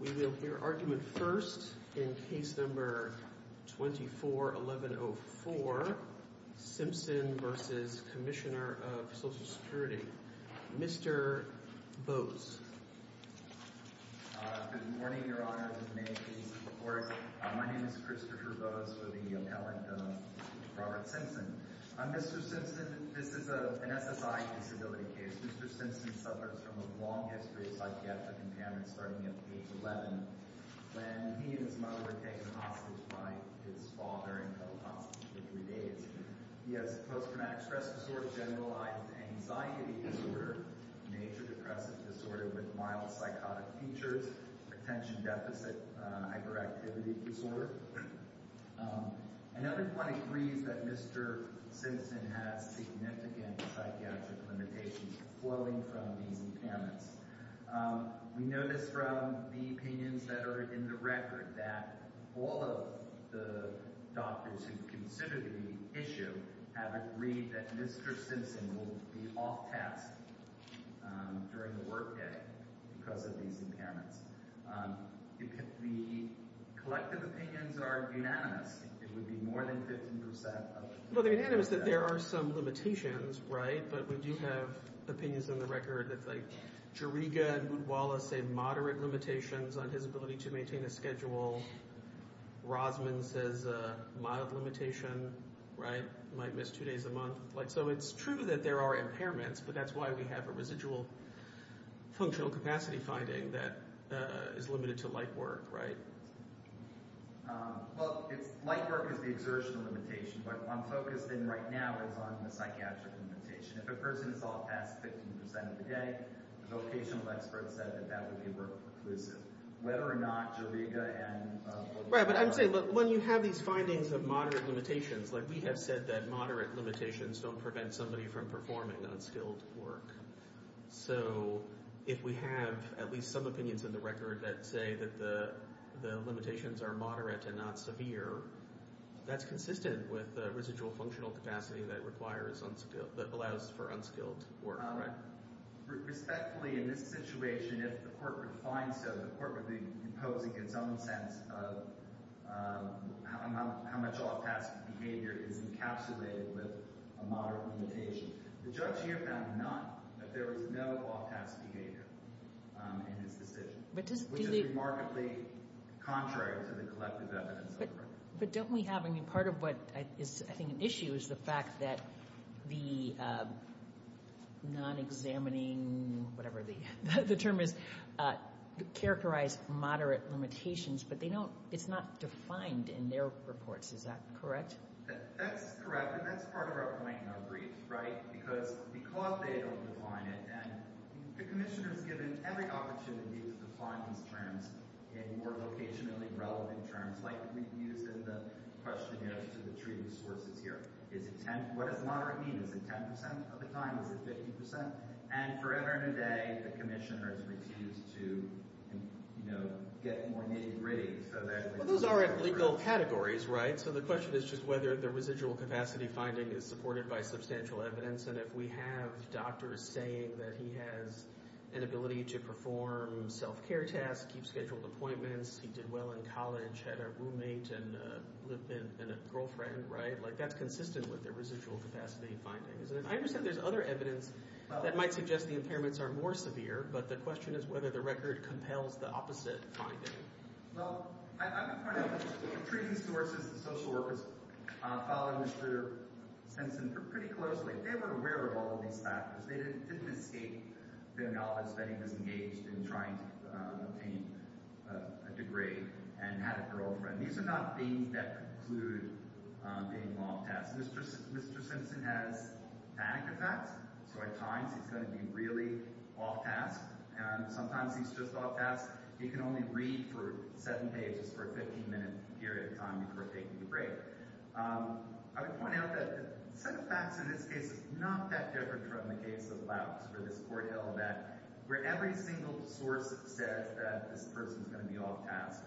We will hear argument first in Case No. 24-1104, Simpson v. Commissioner of Social Security. Mr. Bose. Good morning, Your Honor. My name is Christopher Bose with the appellate of Robert Simpson. Mr. Simpson, this is an SSI disability case. Mr. Simpson suffers from a long history of psychiatric impairment starting at age 11 when he and his mother were taken hostage by his father and held hostage for three days. He has post-traumatic stress disorder, generalized anxiety disorder, major depressive disorder with mild psychotic features, attention deficit hyperactivity disorder. Another point of grief is that Mr. Simpson has significant psychiatric limitations flowing from these impairments. We know this from the opinions that are in the record that all of the doctors who considered the issue have agreed that Mr. Simpson will be off-task during the workday because of these impairments. The collective opinions are unanimous. It would be more than 15% of the... Well, the unanimous that there are some limitations, right, but we do have opinions in the record that's like Jurega and Wood Wallace say moderate limitations on his ability to maintain a schedule. Rosman says mild limitation, right, might miss two days a month. So it's true that there are impairments, but that's why we have a residual functional capacity finding that is limited to light work, right? Well, light work is the exertional limitation, but what I'm focused in right now is on the psychiatric limitation. If a person is off-task 15% of the day, vocational experts said that that would be work-inclusive. Whether or not Jurega and Wood Wallace... Right, but I'm saying when you have these findings of moderate limitations, like we have said that moderate limitations don't prevent somebody from performing unskilled work. So if we have at least some opinions in the record that say that the limitations are moderate and not severe, that's consistent with the residual functional capacity that allows for unskilled work, right? Respectfully, in this situation, if the court would find so, the court would be imposing its own sense of how much off-task behavior is encapsulated with a moderate limitation. The judge here found none, that there was no off-task behavior in his decision, which is remarkably contrary to the collective evidence of the record. But don't we have... I mean, part of what is, I think, an issue is the fact that the non-examining, whatever the term is, characterized moderate limitations, but it's not defined in their reports. Is that correct? That's correct, and that's part of our point in our brief, right? Because, because they don't define it, and the Commissioner's given every opportunity to define these terms in more locationally relevant terms, like we've used in the questionnaires to the tree resources here. What does moderate mean? Is it 10% of the time? Is it 50%? And forever and a day, the Commissioner has refused to, you know, get more nitty-gritty so that... But those aren't legal categories, right? So the question is just whether the residual capacity finding is supported by substantial evidence. And if we have doctors saying that he has an ability to perform self-care tasks, keep scheduled appointments, he did well in college, had a roommate and a girlfriend, right? Like, that's consistent with the residual capacity findings. I understand there's other evidence that might suggest the impairments are more severe, but the question is whether the record compels the opposite finding. Well, I would point out that the tree resources and social workers followed Mr. Simpson pretty closely. They were aware of all of these factors. They didn't escape their knowledge that he was engaged in trying to obtain a degree and had a girlfriend. These are not things that conclude being off-task. Mr. Simpson has panic effects, so at times he's going to be really off-task, and sometimes he's just off-task. He can only read for seven pages for a 15-minute period of time before taking a break. I would point out that the set of facts in this case is not that different from the case of Laos, where this court held that where every single source says that this person is going to be off-task,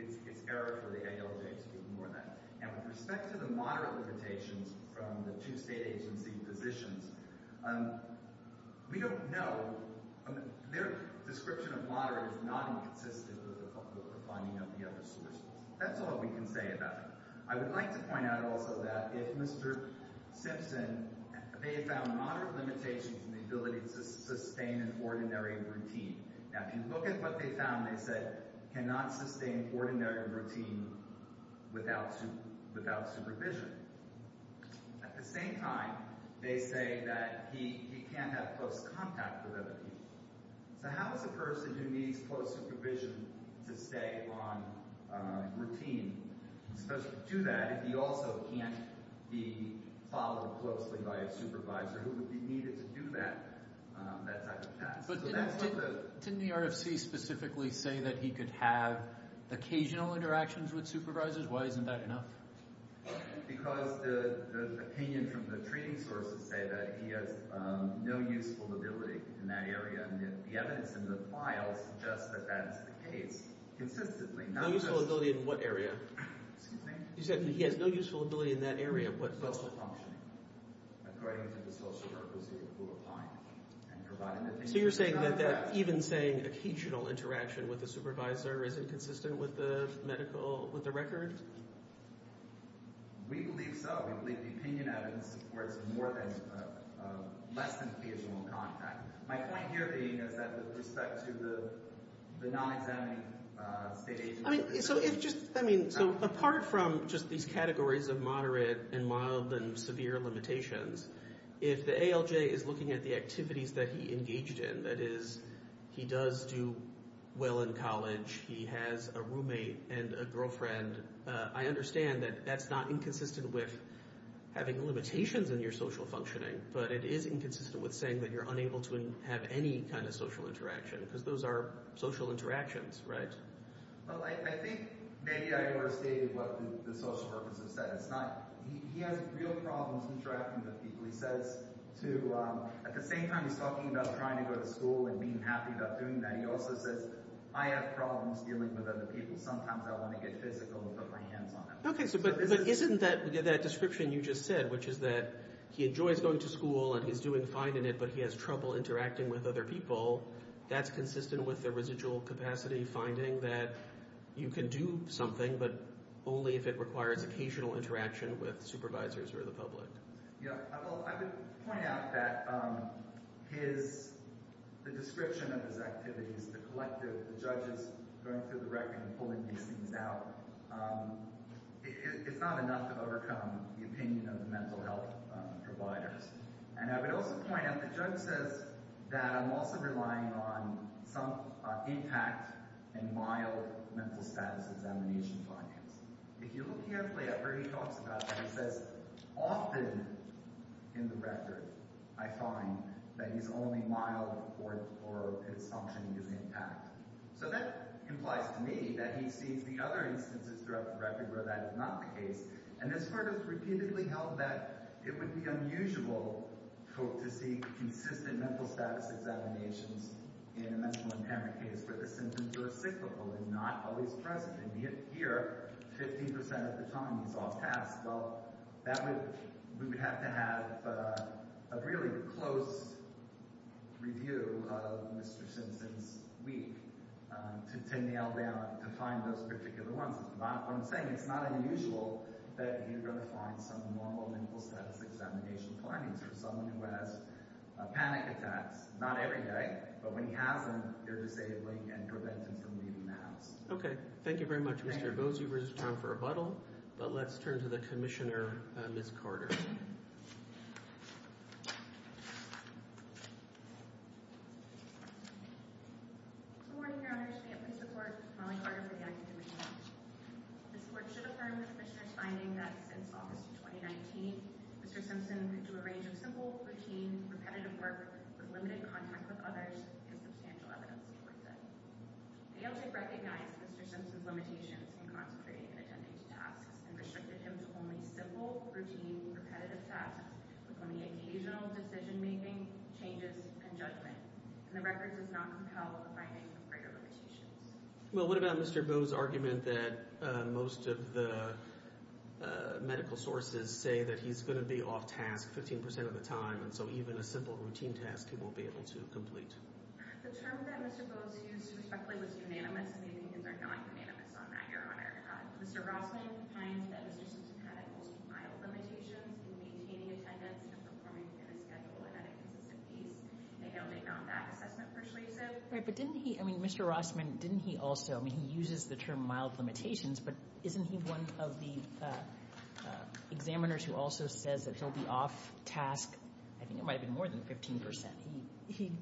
it's error for the ALJ to ignore that. With respect to the moderate limitations from the two state agency positions, we don't know. Their description of moderate is not inconsistent with the finding of the other sources. That's all we can say about it. I would like to point out also that if Mr. Simpson – they found moderate limitations in the ability to sustain an ordinary routine. Now, if you look at what they found, they said cannot sustain ordinary routine without supervision. At the same time, they say that he can't have close contact with other people. So how is a person who needs close supervision to stay on routine, especially to do that if he also can't be followed closely by a supervisor who would be needed to do that type of task? But didn't the RFC specifically say that he could have occasional interactions with supervisors? Why isn't that enough? Because the opinion from the treating sources say that he has no useful ability in that area. And the evidence in the file suggests that that is the case consistently. No useful ability in what area? Excuse me? You said he has no useful ability in that area. Social functioning. According to the social workers, he will apply. So you're saying that even saying occasional interaction with a supervisor isn't consistent with the medical – with the record? We believe so. We believe the opinion evidence supports more than – less than occasional contact. My point here being is that with respect to the non-examining state agency – So apart from just these categories of moderate and mild and severe limitations, if the ALJ is looking at the activities that he engaged in, that is, he does do well in college, he has a roommate and a girlfriend, I understand that that's not inconsistent with having limitations in your social functioning, but it is inconsistent with saying that you're unable to have any kind of social interaction because those are social interactions, right? Well, I think maybe I overstated what the social workers have said. It's not – he has real problems interacting with people. He says to – at the same time he's talking about trying to go to school and being happy about doing that, he also says, I have problems dealing with other people. Sometimes I want to get physical and put my hands on them. Okay, but isn't that description you just said, which is that he enjoys going to school and he's doing fine in it but he has trouble interacting with other people, that's consistent with the residual capacity finding that you can do something but only if it requires occasional interaction with supervisors or the public? Yeah, well, I would point out that his – the description of his activities, the collective, the judges going through the record and pulling these things out, it's not enough to overcome the opinion of the mental health providers. And I would also point out the judge says that I'm also relying on some impact and mild mental status examination findings. If you look carefully at where he talks about that, he says, often in the record I find that he's only mild or an assumption of impact. So that implies to me that he sees the other instances throughout the record where that is not the case, and this part is repeatedly held that it would be unusual to see consistent mental status examinations in a mental impairment case where the symptoms are cyclical and not always present. And here, 50% of the time he's off task. Well, that would – we would have to have a really close review of Mr. Simpson's week to nail down – to find those particular ones. It's not – what I'm saying, it's not unusual that you're going to find some normal mental status examination findings for someone who has panic attacks, not every day, but when he has them, you're disabling and preventing him from leaving the house. Okay. Thank you very much, Mr. Bose. You've reserved time for rebuttal, but let's turn to the Commissioner, Ms. Carter. Good morning, Your Honors. Ma'am, please support Molly Carter for the academic report. This report should affirm the Commissioner's finding that since August of 2019, Mr. Simpson could do a range of simple, routine, repetitive work with limited contact with others and substantial evidence towards it. They only recognized Mr. Simpson's limitations in concentrating and attending to tasks and restricted him to only simple, routine, repetitive tasks with only occasional decision-making, changes, and judgment. And the record does not compel the finding of greater limitations. Well, what about Mr. Bose's argument that most of the medical sources say that he's going to be off task 15% of the time, and so even a simple, routine task he won't be able to complete? The term that Mr. Bose used, respectfully, was unanimous, and the opinions are non-unanimous on that, Your Honor. Mr. Rossman finds that Mr. Simpson had at most mild limitations in maintaining attendance and performing within a schedule and at a consistent pace. They found that assessment persuasive. Right, but didn't he, I mean, Mr. Rossman, didn't he also, I mean, he uses the term mild limitations, but isn't he one of the examiners who also says that he'll be off task, I think it might have been more than 15%? He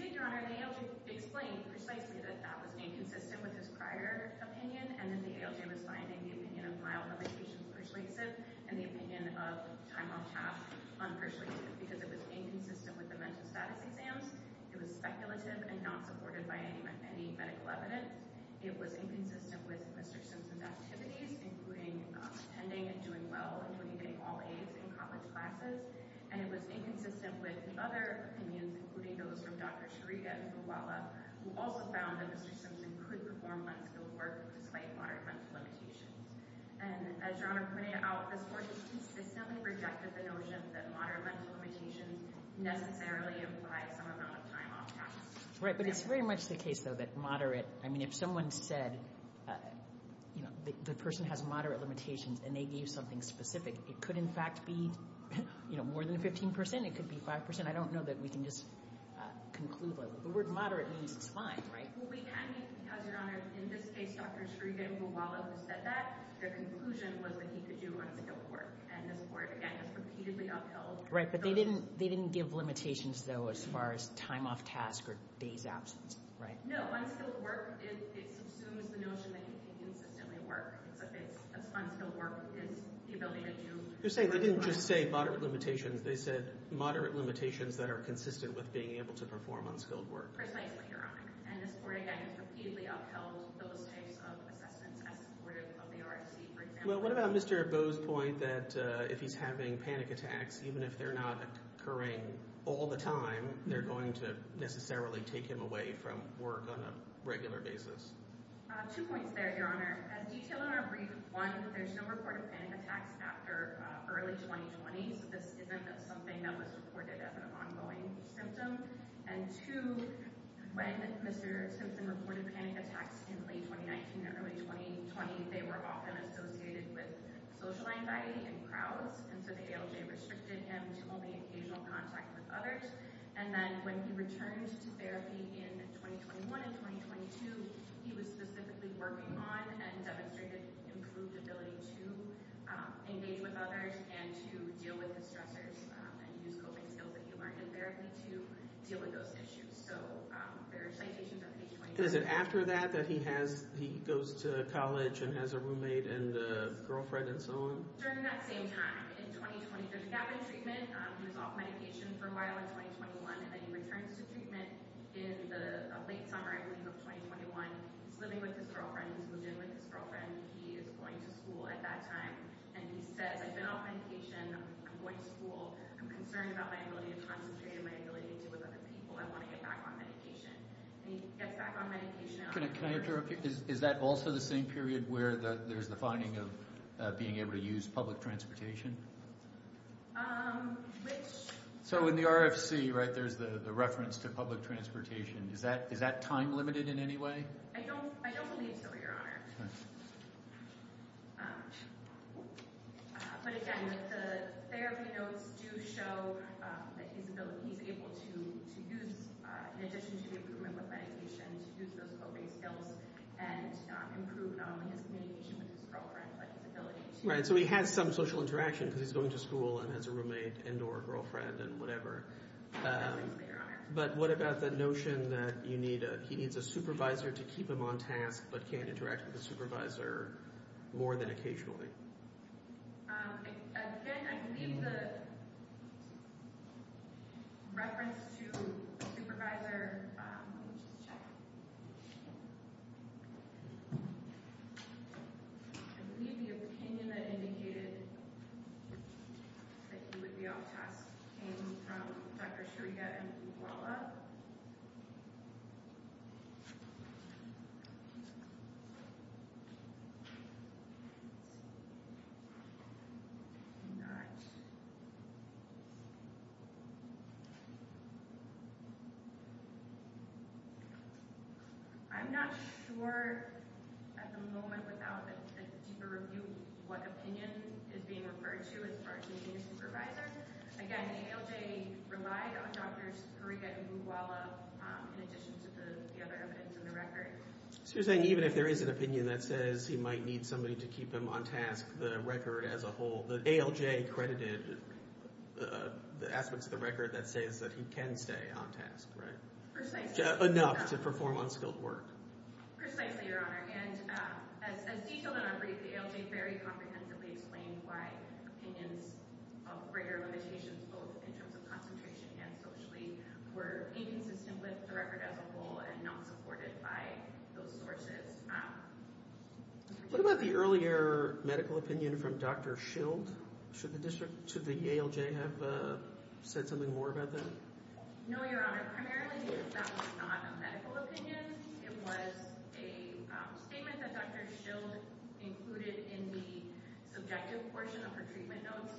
did, Your Honor. The ALJ explained precisely that that was inconsistent with his prior opinion, and that the ALJ was finding the opinion of mild limitations persuasive and the opinion of time off task unpersuasive because it was inconsistent with the mental status exams. It was speculative and not supported by any medical evidence. It was inconsistent with Mr. Simpson's activities, including attending and doing well, including getting all As in college classes, and it was inconsistent with other opinions, including those from Dr. Shariga and Mbawala, who also found that Mr. Simpson could perform unskilled work despite moderate mental limitations. And, as Your Honor pointed out, this Court has consistently rejected the notion that moderate mental limitations necessarily imply some amount of time off task. Right, but it's very much the case, though, that moderate, I mean, if someone said, you know, the person has moderate limitations, and they gave something specific, it could, in fact, be, you know, more than 15%, it could be 5%. I don't know that we can just conclude that the word moderate means it's fine, right? Well, we can because, Your Honor, in this case, Dr. Shariga and Mbawala who said that, their conclusion was that he could do unskilled work, and this Court, again, has repeatedly upheld those. They didn't give limitations, though, as far as time off task or days absence, right? No, unskilled work, it subsumes the notion that he can consistently work, except that unskilled work is the ability to do. You're saying they didn't just say moderate limitations, they said moderate limitations that are consistent with being able to perform unskilled work. Precisely, Your Honor, and this Court, again, has repeatedly upheld those types of assessments as supportive of the RFC, for example. Well, what about Mr. Bowe's point that if he's having panic attacks, even if they're not occurring all the time, they're going to necessarily take him away from work on a regular basis? Two points there, Your Honor. As detailed in our brief, one, there's no reported panic attacks after early 2020, so this isn't something that was reported as an ongoing symptom. And two, when Mr. Simpson reported panic attacks in late 2019 and early 2020, they were often associated with social anxiety and crowds, and so the ALJ restricted him to only occasional contact with others. And then when he returned to therapy in 2021 and 2022, he was specifically working on and demonstrated improved ability to engage with others and to deal with his stressors and use coping skills that he learned empirically to deal with those issues. So there are citations on page 23. Is it after that that he goes to college and has a roommate and a girlfriend and so on? During that same time, in 2020, there's a gap in treatment. He was off medication for a while in 2021, and then he returns to treatment in the late summer, I believe, of 2021. He's living with his girlfriend. He's moved in with his girlfriend. He is going to school at that time, and he says, I've been off medication. I'm going to school. I'm concerned about my ability to concentrate and my ability to deal with other people. I want to get back on medication, and he gets back on medication. Can I interrupt you? Is that also the same period where there's the finding of being able to use public transportation? Which... So in the RFC, right, there's the reference to public transportation. Is that time limited in any way? I don't believe so, Your Honor. But again, the therapy notes do show that he's able to use, in addition to the improvement with medication, to use those coping skills and improve not only his communication with his girlfriend, but his ability to... Right, so he has some social interaction because he's going to school and has a roommate and or a girlfriend and whatever. But what about the notion that he needs a supervisor to keep him on task but can't interact with the supervisor more than occasionally? Again, I believe the reference to a supervisor... Let me just check. I believe the opinion that indicated that he would be on task came from Dr. Shurita and Ubala. I'm not sure at the moment, without a deeper review, what opinion is being referred to as far as needing a supervisor. Again, ALJ relied on Dr. Shurita and Ubala in addition to the other evidence in the record. So you're saying even if there is an opinion that says he might need somebody to keep him on task, the record as a whole... The ALJ credited the aspects of the record that says that he can stay on task, right? Precisely. Enough to perform unskilled work. Precisely, Your Honor. And as detailed in our brief, the ALJ very comprehensively explained why opinions of greater limitations, both in terms of concentration and socially, were inconsistent with the record as a whole and not supported by those sources. What about the earlier medical opinion from Dr. Schild? Should the ALJ have said something more about that? No, Your Honor. Primarily, that was not a medical opinion. It was a statement that Dr. Schild included in the subjective portion of her treatment notes.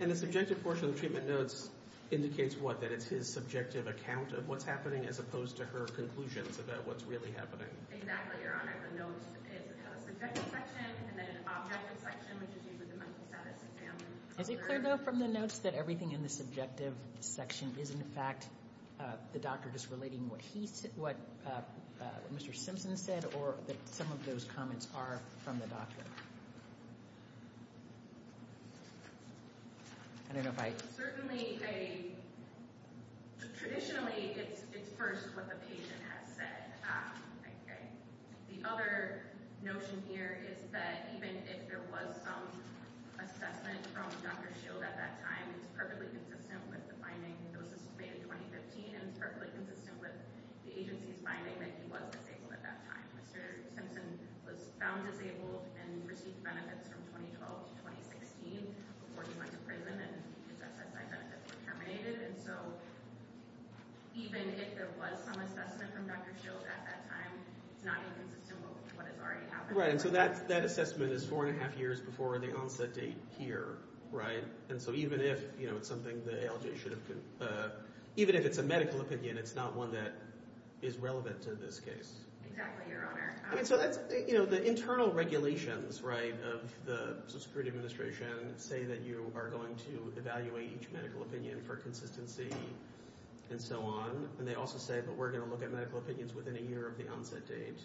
And the subjective portion of the treatment notes indicates what? That it's his subjective account of what's happening as opposed to her conclusions about what's really happening? Exactly, Your Honor. The notes have a subjective section and then an objective section, which is used in the mental status exam. Is it clear, though, from the notes that everything in the subjective section is, in fact, the doctor just relating what Mr. Simpson said or that some of those comments are from the doctor? I don't know if I... Certainly, traditionally, it's first what the patient has said. The other notion here is that even if there was some assessment from Dr. Schild at that time, it's perfectly consistent with the finding that was estimated in 2015 and it's perfectly consistent with the agency's finding that he was disabled at that time. Mr. Simpson was found disabled and received benefits from 2012 to 2016 before he went to prison and his SSI benefits were terminated. And so even if there was some assessment from Dr. Schild at that time, it's not inconsistent with what has already happened. Right, and so that assessment is four and a half years before the onset date here, right? And so even if it's something the ALJ should have... Even if it's a medical opinion, it's not one that is relevant to this case. Exactly, Your Honor. The internal regulations of the Social Security Administration say that you are going to evaluate each medical opinion for consistency and so on. And they also say that we're going to look at medical opinions within a year of the onset date.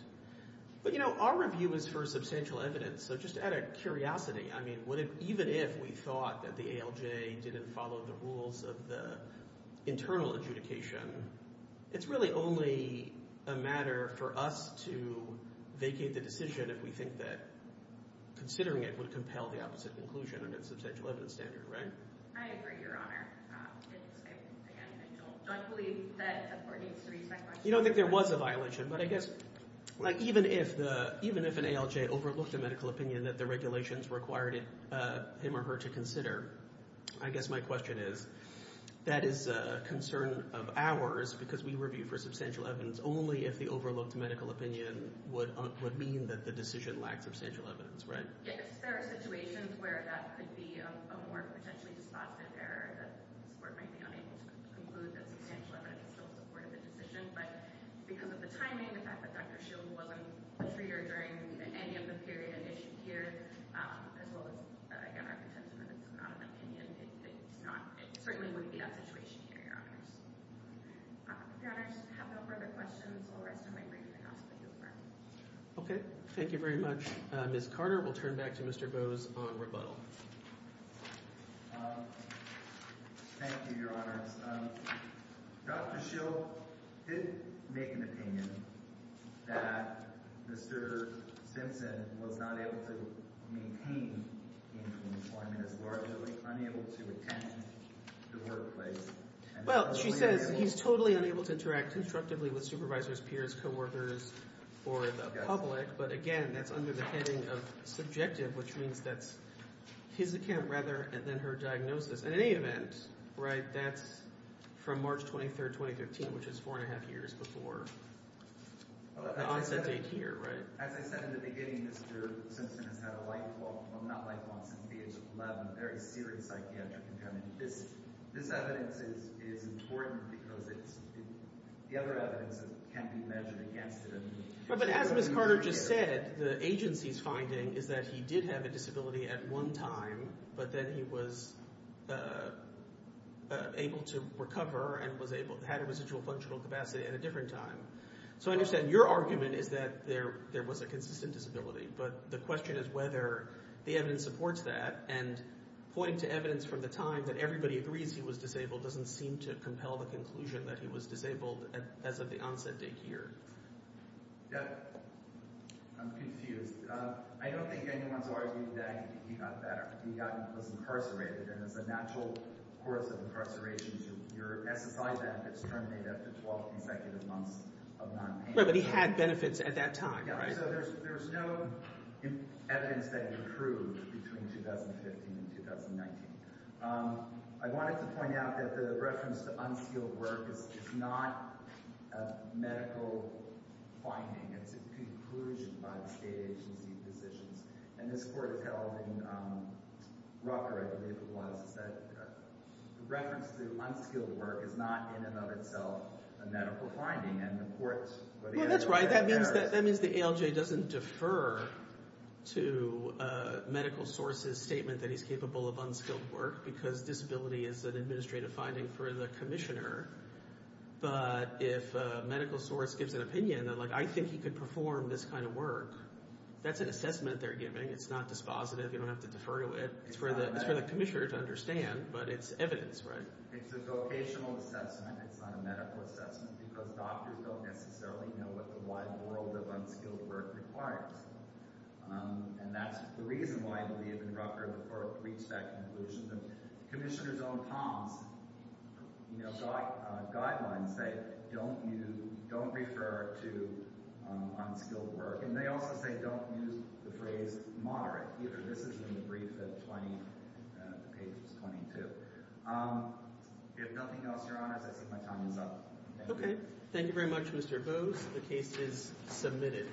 But our review is for substantial evidence. So just out of curiosity, I mean, even if we thought that the ALJ didn't follow the rules of the internal adjudication, it's really only a matter for us to vacate the decision if we think that considering it would compel the opposite conclusion under the substantial evidence standard, right? I agree, Your Honor. Again, I don't believe that the court needs to raise that question. You don't think there was a violation, but I guess, like, even if an ALJ overlooked a medical opinion that the regulations required him or her to consider, I guess my question is, that is a concern of ours because we review for substantial evidence only if the overlooked medical opinion would mean that the decision lacked substantial evidence, right? Yes, there are situations where that could be a more potentially dispositive error that the court might be unable to conclude that substantial evidence still supported the decision. But because of the timing, the fact that Dr. Shields wasn't a treater during any of the period at issue here, as well as, again, our contention that it's not an opinion, it certainly wouldn't be that situation here, Your Honors. If Your Honors have no further questions, all the rest of my briefing has been confirmed. Okay, thank you very much, Ms. Carter. We'll turn back to Mr. Bowes on rebuttal. Thank you, Your Honors. Dr. Shields did make an opinion that Mr. Simpson was not able to maintain income employment, is largely unable to attend to the workplace. Well, she says he's totally unable to interact constructively with supervisors, peers, coworkers, or the public. But again, that's under the heading of subjective, which means that's his account rather than her diagnosis. In any event, right, that's from March 23, 2015, which is four and a half years before the onset date here, right? As I said in the beginning, Mr. Simpson has had a lifelong – well, not lifelong, since the age of 11, a very serious psychiatric impairment. This evidence is important because the other evidence can't be measured against it. But as Ms. Carter just said, the agency's finding is that he did have a disability at one time, but then he was able to recover and was able – had a residual functional capacity at a different time. So I understand your argument is that there was a consistent disability, but the question is whether the evidence supports that. And pointing to evidence from the time that everybody agrees he was disabled doesn't seem to compel the conclusion that he was disabled as of the onset date here. I'm confused. I don't think anyone's arguing that he got better. He was incarcerated, and as a natural course of incarceration, your SSI benefits terminate after 12 consecutive months of nonpayment. Right, but he had benefits at that time, right? Yeah, so there's no evidence that he improved between 2015 and 2019. I wanted to point out that the reference to unsealed work is not a medical finding. It's a conclusion by the state agency physicians. And this court is held in Rucker, I believe it was. It said the reference to unsealed work is not in and of itself a medical finding. Well, that's right. That means the ALJ doesn't defer to medical sources' statement that he's capable of unsealed work because disability is an administrative finding for the commissioner. But if a medical source gives an opinion that, like, I think he could perform this kind of work, that's an assessment they're giving. It's not dispositive. You don't have to defer to it. It's for the commissioner to understand, but it's evidence, right? It's a vocational assessment. It's not a medical assessment because doctors don't necessarily know what the wide world of unsealed work requires. And that's the reason why I believe in Rucker the court reached that conclusion. The commissioner's own POMS guidelines say don't refer to unsealed work. And they also say don't use the phrase moderate either. This is in the brief at page 22. If nothing else, Your Honor, I think my time is up. Okay. Thank you very much, Mr. Bowes. The case is submitted.